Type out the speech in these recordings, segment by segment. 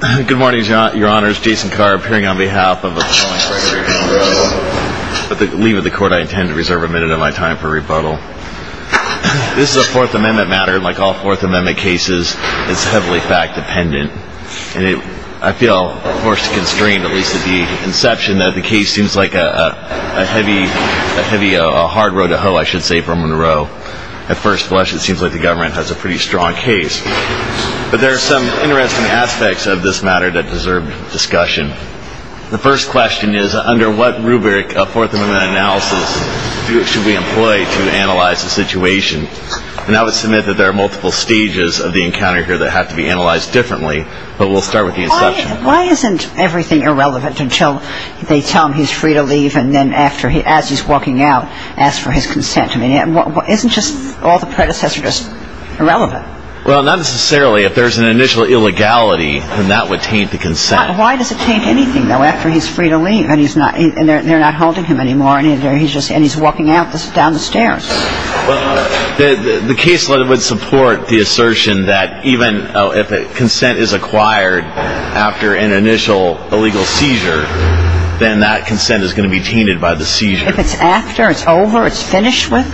Good morning, your honors. Jason Carr, appearing on behalf of the Appellant's Registration Bureau. At the leave of the court, I intend to reserve a minute of my time for rebuttal. This is a Fourth Amendment matter, and like all Fourth Amendment cases, it's heavily fact-dependent. And I feel forced to constrain, at least at the inception, that the case seems like a heavy, a hard road to hoe, I should say, for Monroe. At first blush, it seems like the government has a pretty strong case. But there are some interesting aspects of this matter that deserve discussion. The first question is, under what rubric of Fourth Amendment analysis should we employ to analyze the situation? And I would submit that there are multiple stages of the encounter here that have to be analyzed differently, but we'll start with the inception. Why isn't everything irrelevant until they tell him he's free to leave, and then after, as he's walking out, ask for his consent? I mean, isn't just all the predecessors just Not necessarily. If there's an initial illegality, then that would taint the consent. Why does it taint anything, though, after he's free to leave, and they're not holding him anymore, and he's walking out down the stairs? The case would support the assertion that even if consent is acquired after an initial illegal seizure, then that consent is going to be tainted by the seizure. If it's after, it's over, it's finished with?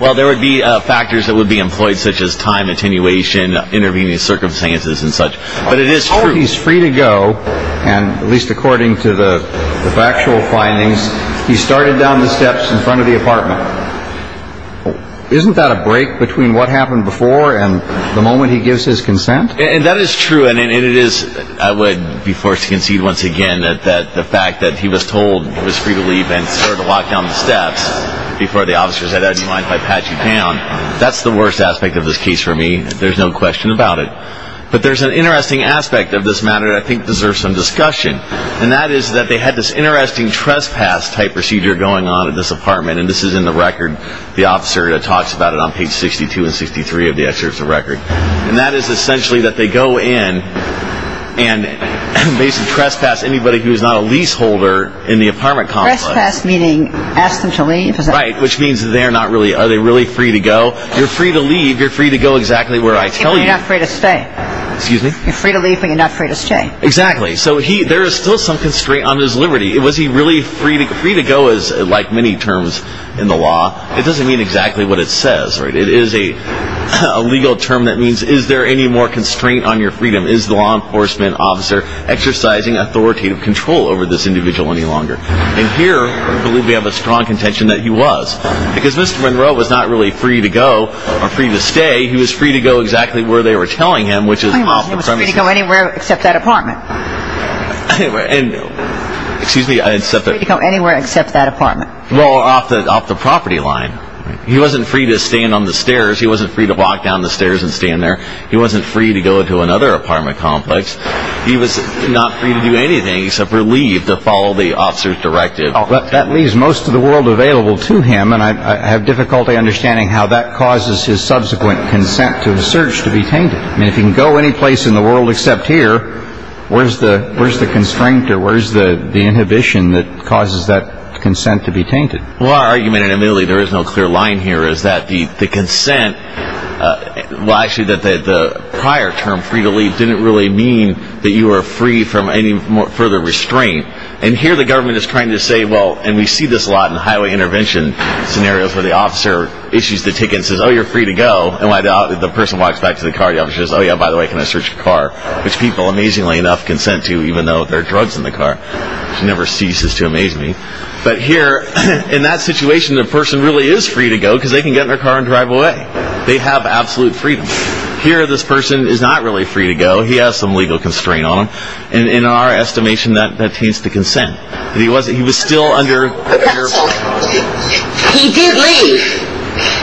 Well, there would be factors that would be a continuation, intervening circumstances and such, but it is true. Oh, he's free to go, and at least according to the factual findings, he started down the steps in front of the apartment. Isn't that a break between what happened before and the moment he gives his consent? And that is true, and it is, I would be forced to concede once again that the fact that he was told he was free to leave and started to walk down the steps before the officers had any mind to pat you down, that's the worst aspect of this case for me. There's no question about it. But there's an interesting aspect of this matter that I think deserves some discussion, and that is that they had this interesting trespass-type procedure going on in this apartment, and this is in the record. The officer talks about it on page 62 and 63 of the excerpt of the record. And that is essentially that they go in and basically trespass anybody who is not a leaseholder in the apartment complex. Trespass meaning ask them to leave? Right, which means are they really free to go? You're free to leave, you're free to go exactly where I tell you. You're free to leave, but you're not free to stay. Exactly. So there is still some constraint on his liberty. Was he really free to go? Like many terms in the law, it doesn't mean exactly what it says. It is a legal term that means is there any more constraint on your freedom? Is the law enforcement officer exercising authoritative control over this individual any longer? And here, I believe we have a strong contention that he was. Because Mr. Monroe was not really free to go or free to stay. He was free to go exactly where they were telling him, which is off the premises. He was free to go anywhere except that apartment. Well, off the property line. He wasn't free to stand on the stairs. He wasn't free to walk down the stairs and stand there. He wasn't free to go into another apartment complex. He was not free to do anything except for leave to follow the officer's directive. That leaves most of the world available to him. And I have difficulty understanding how that causes his subsequent consent to search to be tainted. I mean, if he can go any place in the world except here, where's the constraint or where's the inhibition that causes that consent to be tainted? Well, our argument, and Emily, there is no clear line here, is that the consent, well, actually the prior term, free to leave, didn't really mean that you were free from any further restraint. And here the government is trying to say, well, and we see this a lot in highway intervention scenarios where the officer issues the ticket and says, oh, you're free to go. And the person walks back to the car, the officer says, oh, yeah, by the way, can I search your car? Which people, amazingly enough, consent to even though there are drugs in the car. Which never ceases to amaze me. But here, in that situation, the person really is free to go because they can get in their car and drive away. They have absolute freedom. Here, this person is not really free to go. He has some legal constraint on him. And in our estimation, that taints the consent. He was still under your control. He did leave.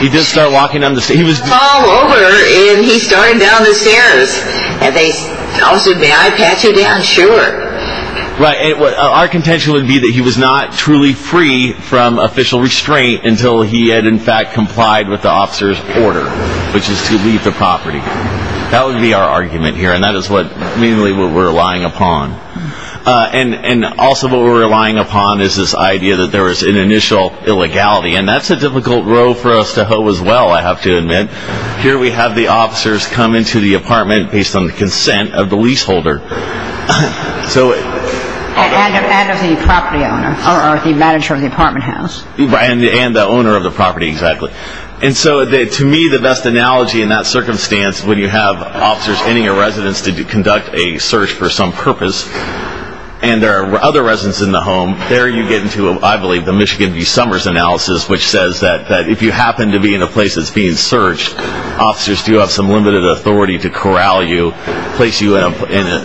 He did start walking down the stairs. He did fall over and he started down the stairs. And they said, officer, may I pat you down? Sure. Right. Our contention would be that he was not truly free from official restraint until he had, in fact, complied with the officer's order, which is to leave the property. That would be our argument here. And that is mainly what we're relying upon. And also what we're relying upon is this idea that there is an initial illegality. And that's a difficult row for us to hoe as well, I have to admit. Here we have the officers come into the apartment based on the consent of the leaseholder. And of the property owner. Or the manager of the apartment house. And the owner of the property. Exactly. And so, to me, the best analogy in that circumstance when you have officers in your residence to conduct a search for some purpose and there are other residents in the home, there you get into I believe the Michigan v. Summers analysis, which says that if you happen to be in a place that's being searched, officers do have some limited authority to corral you, place you in a...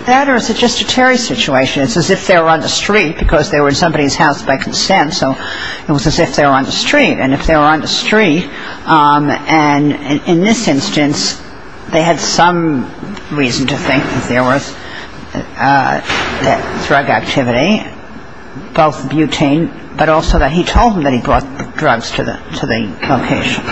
That or is it just a Terry situation? It's as if they were on the street because they were in somebody's house by consent. So it was as if they were on the street. And if they were on the street and in this instance they had some reason to think that there was drug activity, both butane, but also that he told him that he brought the drugs to the location.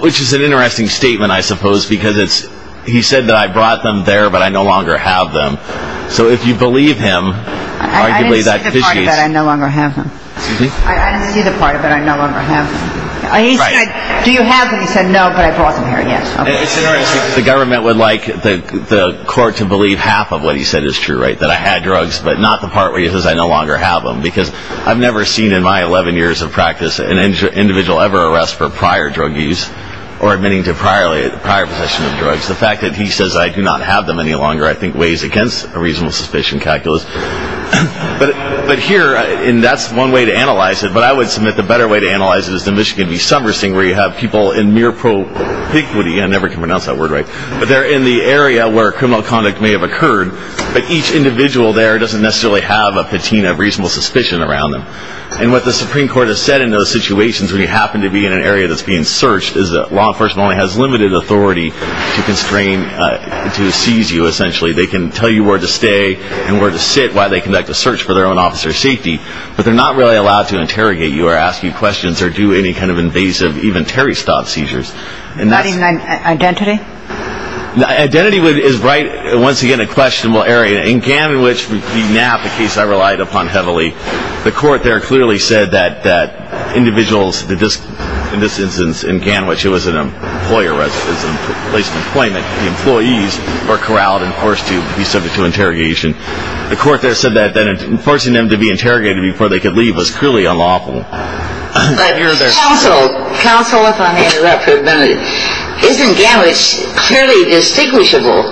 Which is an interesting statement, I suppose, because he said that I brought them there but I no longer have them. So if you believe him I didn't see the part about I no longer have them. I didn't see the part about I no longer have them. He said, do you have them? He said, no but I brought them here, yes. It's interesting because the government would like the court to believe half of what he said is true, right? That I had drugs, but not the part where he says I no longer have them. Because I've never seen in my 11 years of practice an individual ever arrest for prior drug use or admitting to prior possession of drugs. The fact that he says I do not have them any longer I think weighs against a reasonable suspicion calculus. But here and that's one way to analyze it, but I would submit the better way to analyze it is the Michigan v. Somersing where you have people in mere propiquity, I never can pronounce that word right, but they're in the area where criminal conduct may have occurred, but each individual there doesn't necessarily have a patina of reasonable suspicion around them. And what the Supreme Court has said in those situations where you happen to be in an area that's being searched is that law enforcement only has limited authority to constrain to seize you essentially. They can tell you where to stay and where to sit while they conduct a search for their own officer's safety, but they're not really allowed to interrogate you or ask you questions or do any kind of invasive, even terry-stop seizures. Identity? Identity is once again a questionable area. In Ganwich v. Knapp, a case I relied upon heavily, the court there clearly said that individuals, in this instance in Ganwich, it was an employer residence, a place of employment, the employees were corralled and forced to be subject to interrogation. The court there said that forcing them to be interrogated before they could leave was clearly unlawful. Counsel, if I may interrupt for a minute, isn't Ganwich clearly distinguishable?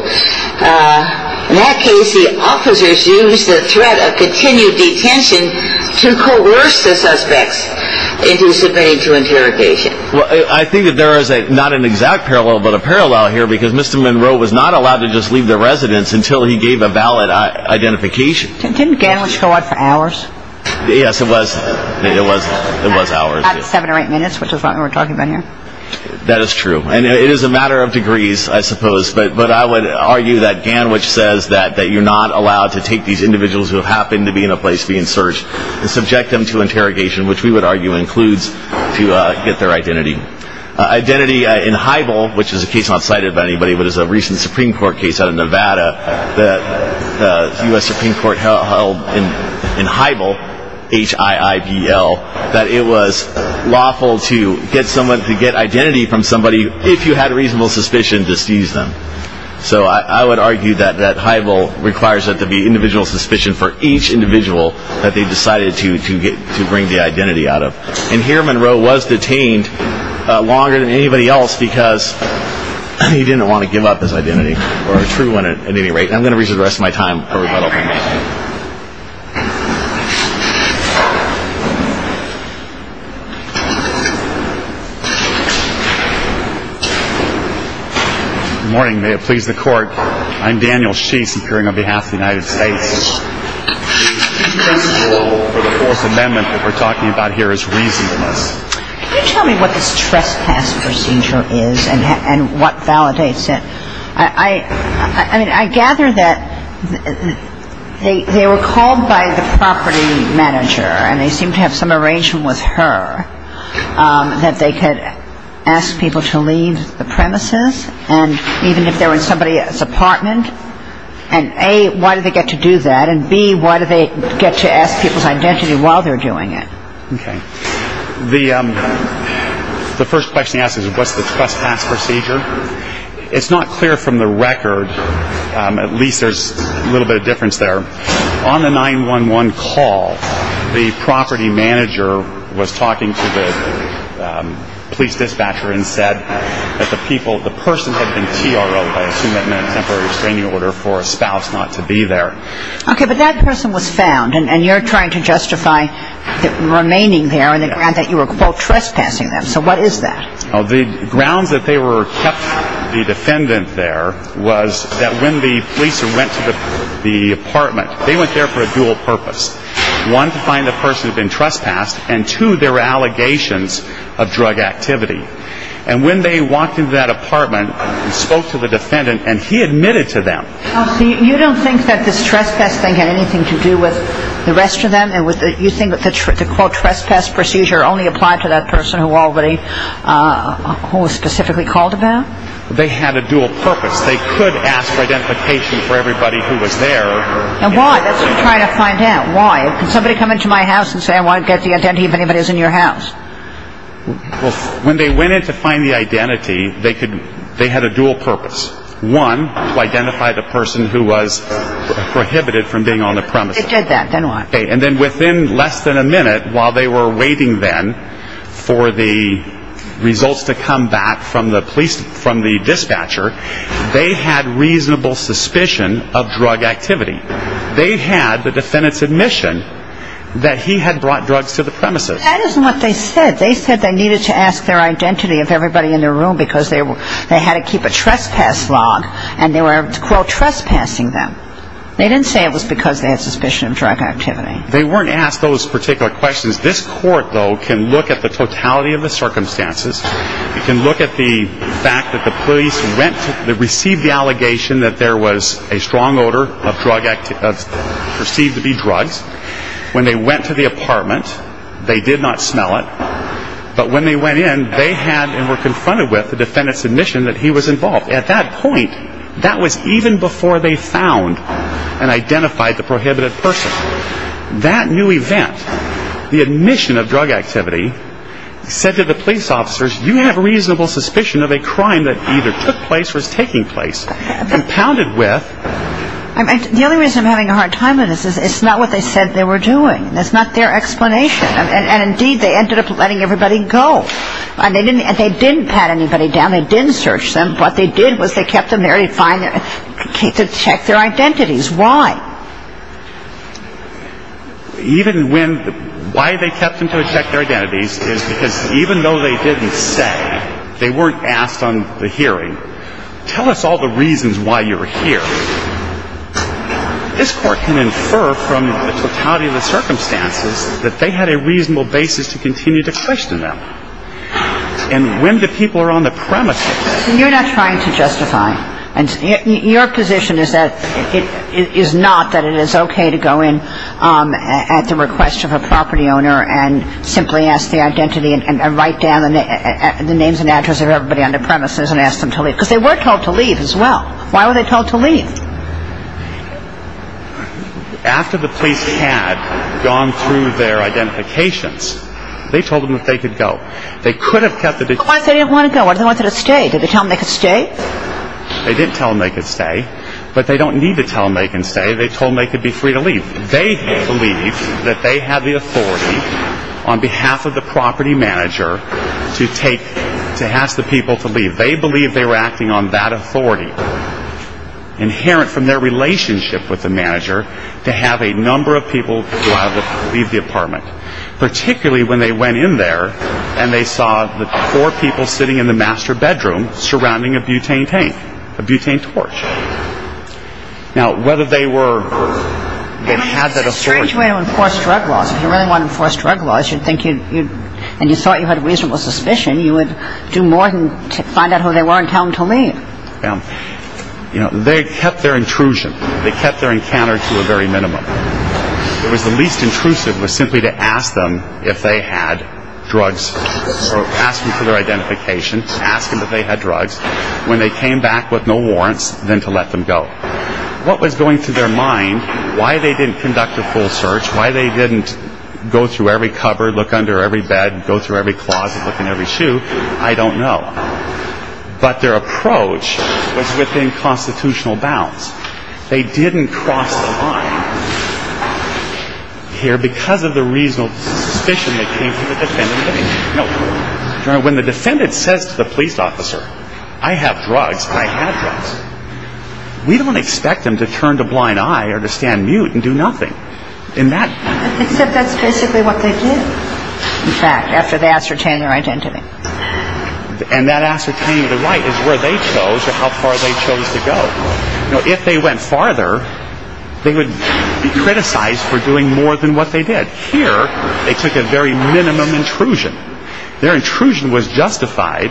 In that case, the officers used the threat of continued detention to coerce the suspects into submitting to interrogation. Well, I think that there is not an exact parallel, but a parallel here because Mr. Monroe was not allowed to just leave the residence until he gave a valid identification. Didn't Ganwich go out for hours? Yes, it was. It was hours. About seven or eight minutes, which is what we're talking about here. That is true, and it is a matter of degrees, I suppose, but I would argue that Ganwich says that you're not allowed to take these individuals who happen to be in a place being searched and subject them to interrogation, which we would argue includes, to get their identity. Identity in Hybl, which is a case not cited by anybody, but is a recent Supreme Court case out of Nevada that the U.S. Supreme Court held in Hybl, H-I-I-B-L, that it was lawful to get someone to get identity from somebody, if you had reasonable suspicion, to seize them. So I would argue that Hybl requires that there be individual suspicion for each individual that they decided to bring the identity out of. And here, Monroe was detained longer than anybody else because he didn't want to give up his identity or a true one at any rate. And I'm going to read you the rest of my time for rebuttal. Good morning. May it please the Court. I'm Daniel Sheese, appearing on behalf of the United States. The principle for the Fourth Amendment that we're talking about here is reasonableness. Can you tell me what this trespass procedure is and what validates it? I mean, I gather that they were called by the property manager, and they seemed to have some arrangement with her, that they could ask people to leave the premises, and even if they were in somebody's apartment, and A, why do they get to do that, and B, why do they get to ask people's identity while they're doing it? The first question he asks is what's the trespass procedure? It's not clear from the record, at least there's a little bit of difference there. On the 911 call, the property manager was talking to the police dispatcher and said that the people, the person had been TRO'd, I assume that meant a temporary restraining order for a spouse not to be there. Okay, but that person was found, and you're trying to justify remaining there on the grounds that you were, quote, trespassing them. So what is that? The grounds that they were kept the defendant there was that when the police went to the apartment, they went there for a dual purpose. One, to find the person who'd been trespassed, and two, there were allegations of drug activity. And when they walked into that apartment and spoke to the defendant, and he admitted to them. So you don't think that this trespassing had anything to do with the rest of them? You think that the, quote, trespass procedure only applied to that person who already, who was specifically called about? They had a dual purpose. They could ask for identification for everybody who was there. And why? That's what you're trying to find out. Why? Can somebody come into my house and say I want to get the identity of anybody who's in your house? Well, when they went in to find the identity, they could, they had a dual purpose. One, to identify the person who was prohibited from being on the premises. They did that, then what? And then within less than a minute, while they were waiting then for the results to come back from the police, from the dispatcher, they had reasonable suspicion of drug activity. They had the defendant's admission that he had brought drugs to the premises. That isn't what they said. They said they needed to ask their identity of everybody in the room because they had to keep a trespass log, and they were, quote, trespassing them. They didn't say it was because they had suspicion of drug activity. They weren't asked those particular questions. This court, though, can look at the totality of the circumstances. It can look at the fact that the police received the allegation that there was a strong odor of perceived to be drugs. When they went to the apartment, they did not smell it, but when they went in, they had and were confronted with the defendant's admission that he was involved. At that point, that was even before they found and identified the prohibited person. That new event, the admission of drug activity, said to the police officers, you have reasonable suspicion of a crime that either took place or is taking place, compounded with... The only reason I'm having a hard time with this is it's not what they said they were doing. That's not their explanation. And indeed, they ended up letting everybody go. They didn't pat anybody down. They didn't search them. What they did was they kept them there to check their identities. Why? Even when... Why they kept them to check their identities is because even though they didn't say, they weren't asked on the hearing, tell us all the reasons why you're here. This court can infer from the totality of the circumstances that they had a reasonable basis to continue to question them. And when the people are on the premises... You're not trying to justify. Your position is that it is not that it is okay to go in at the request of a property owner and simply ask the identity and write down the names and addresses of everybody on the premises and ask them to leave. Because they were told to leave as well. Why were they told to leave? After the police had gone through their identifications, they told them that they could go. They could have kept the... Why did they want to go? Why did they want to stay? Did they tell them they could stay? They did tell them they could stay, but they don't need to tell them they can stay. They told them they could be free to leave. They believed that they had the authority on behalf of the property manager to ask the people to leave. They believed they were acting on that authority, inherent from their relationship with the manager, to have a number of people leave the apartment. Particularly when they went in there and they saw the four people sitting in the master bedroom surrounding a butane tank, a butane torch. Now, whether they were... If you really want to enforce drug laws and you thought you had a reasonable suspicion, you would do more than find out who they were and tell them to leave. They kept their intrusion. They kept their encounter to a very minimum. It was the least intrusive was simply to ask them if they had drugs. Ask them for their identification. Ask them if they had drugs. When they came back with no warrants, then to let them go. What was going through their mind, why they didn't conduct a full search, why they didn't go through every cupboard, look under every bed, go through every closet, look in every shoe, I don't know. But their approach was within constitutional bounds. They didn't cross the line here because of the reasonable suspicion that came from the defendant. When the defendant says to the police officer, I have drugs, I have drugs, we don't expect them to turn a blind eye or to stand mute and do nothing. Except that's basically what they did. In fact, after they ascertained their identity. And that ascertainment of right is where they chose or how far they chose to go. If they went farther, they would be criticized for doing more than what they did. Here, they took a very minimum intrusion. Their intrusion was justified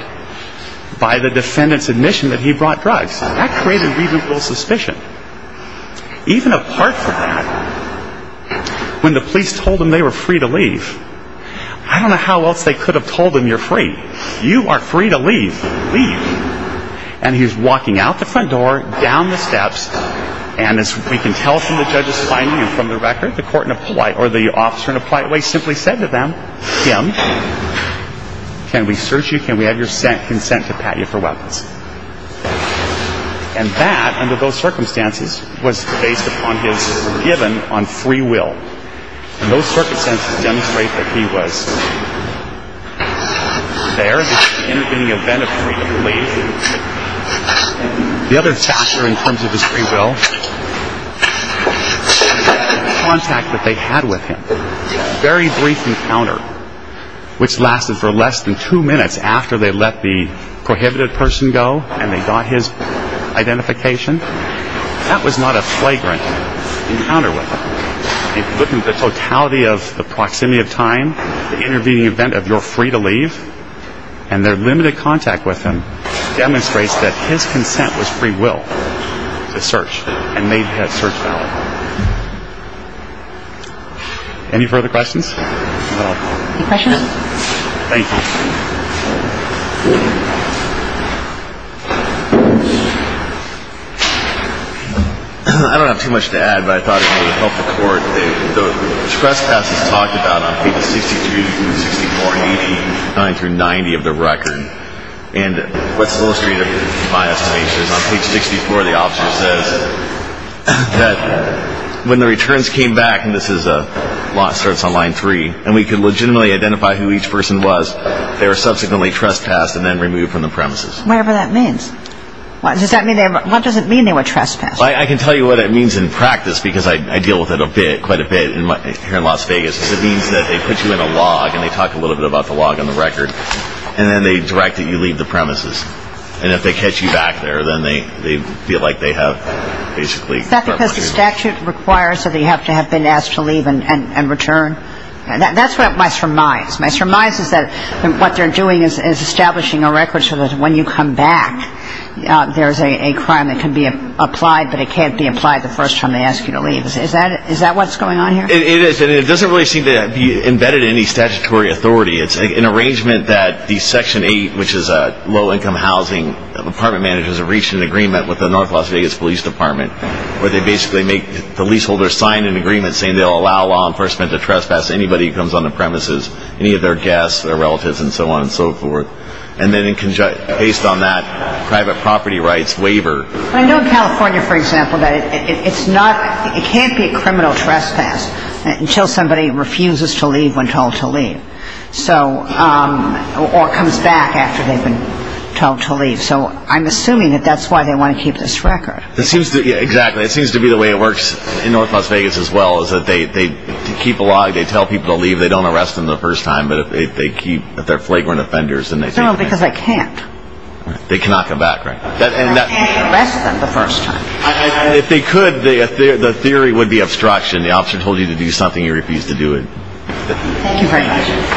by the defendant's admission that he brought drugs. That created reasonable suspicion. Even apart from that, when the police told them they were free to leave, I don't know how else they could have told them you're free. You are free to leave. Leave. And he's walking out the front door, down the steps, and as we can tell from the judge's finding and from the record, the court in a polite or the officer in a polite way simply said to them, Kim, can we search you? Can we have your consent to pat you for weapons? And that, under those circumstances, was based upon his given on free will. And those circumstances demonstrate that he was there. It was an intervening event of free will. The other factor in terms of his free will, the contact that they had with him. A very brief encounter, which lasted for less than two minutes after they let the prohibited person go and they got his identification. That was not a flagrant encounter with him. If you look at the totality of the proximity of time, the intervening event of you're free to leave, and their limited contact with him demonstrates that his consent was free will to search and made his search valid. Any further questions? Thank you. I don't have too much to add, but I thought it would help the court. The express pass is talked about on pages 62 through 64, and 89 through 90 of the record. And what's illustrative of my estimation is on page 64, the officer says that when the returns came back, and this is a lot because it starts on line 3, and we can legitimately identify who each person was, they were subsequently trespassed and then removed from the premises. Whatever that means. What does it mean they were trespassed? I can tell you what it means in practice, because I deal with it quite a bit here in Las Vegas. It means that they put you in a log, and they talk a little bit about the log on the record, and then they direct that you leave the premises. And if they catch you back there, then they feel like they have basically... Is that because the statute requires that you have to have been asked to leave and return? That's my surmise. My surmise is that what they're doing is establishing a record so that when you come back, there's a crime that can be applied, but it can't be applied the first time they ask you to leave. Is that what's going on here? It is, and it doesn't really seem to be embedded in any statutory authority. It's an arrangement that the Section 8, which is low-income housing department managers, have reached an agreement with the North Las Vegas Police Department, where they basically make the leaseholders sign an agreement saying they'll allow law enforcement to trespass anybody who comes on the premises, any of their guests, their relatives, and so on and so forth, and then based on that, private property rights waiver. I know in California, for example, that it can't be a criminal trespass until somebody refuses to leave when told to leave, or comes back after they've been told to leave. So I'm assuming that that's why they want to keep this record. Exactly. It seems to be the way it works in North Las Vegas as well, is that they keep a log, they tell people to leave, they don't arrest them the first time, but if they're flagrant offenders, then they do. No, because they can't. They cannot come back, right? They can't arrest them the first time. If they could, the theory would be obstruction. The officer told you to do something, you refused to do it. Thank you very much.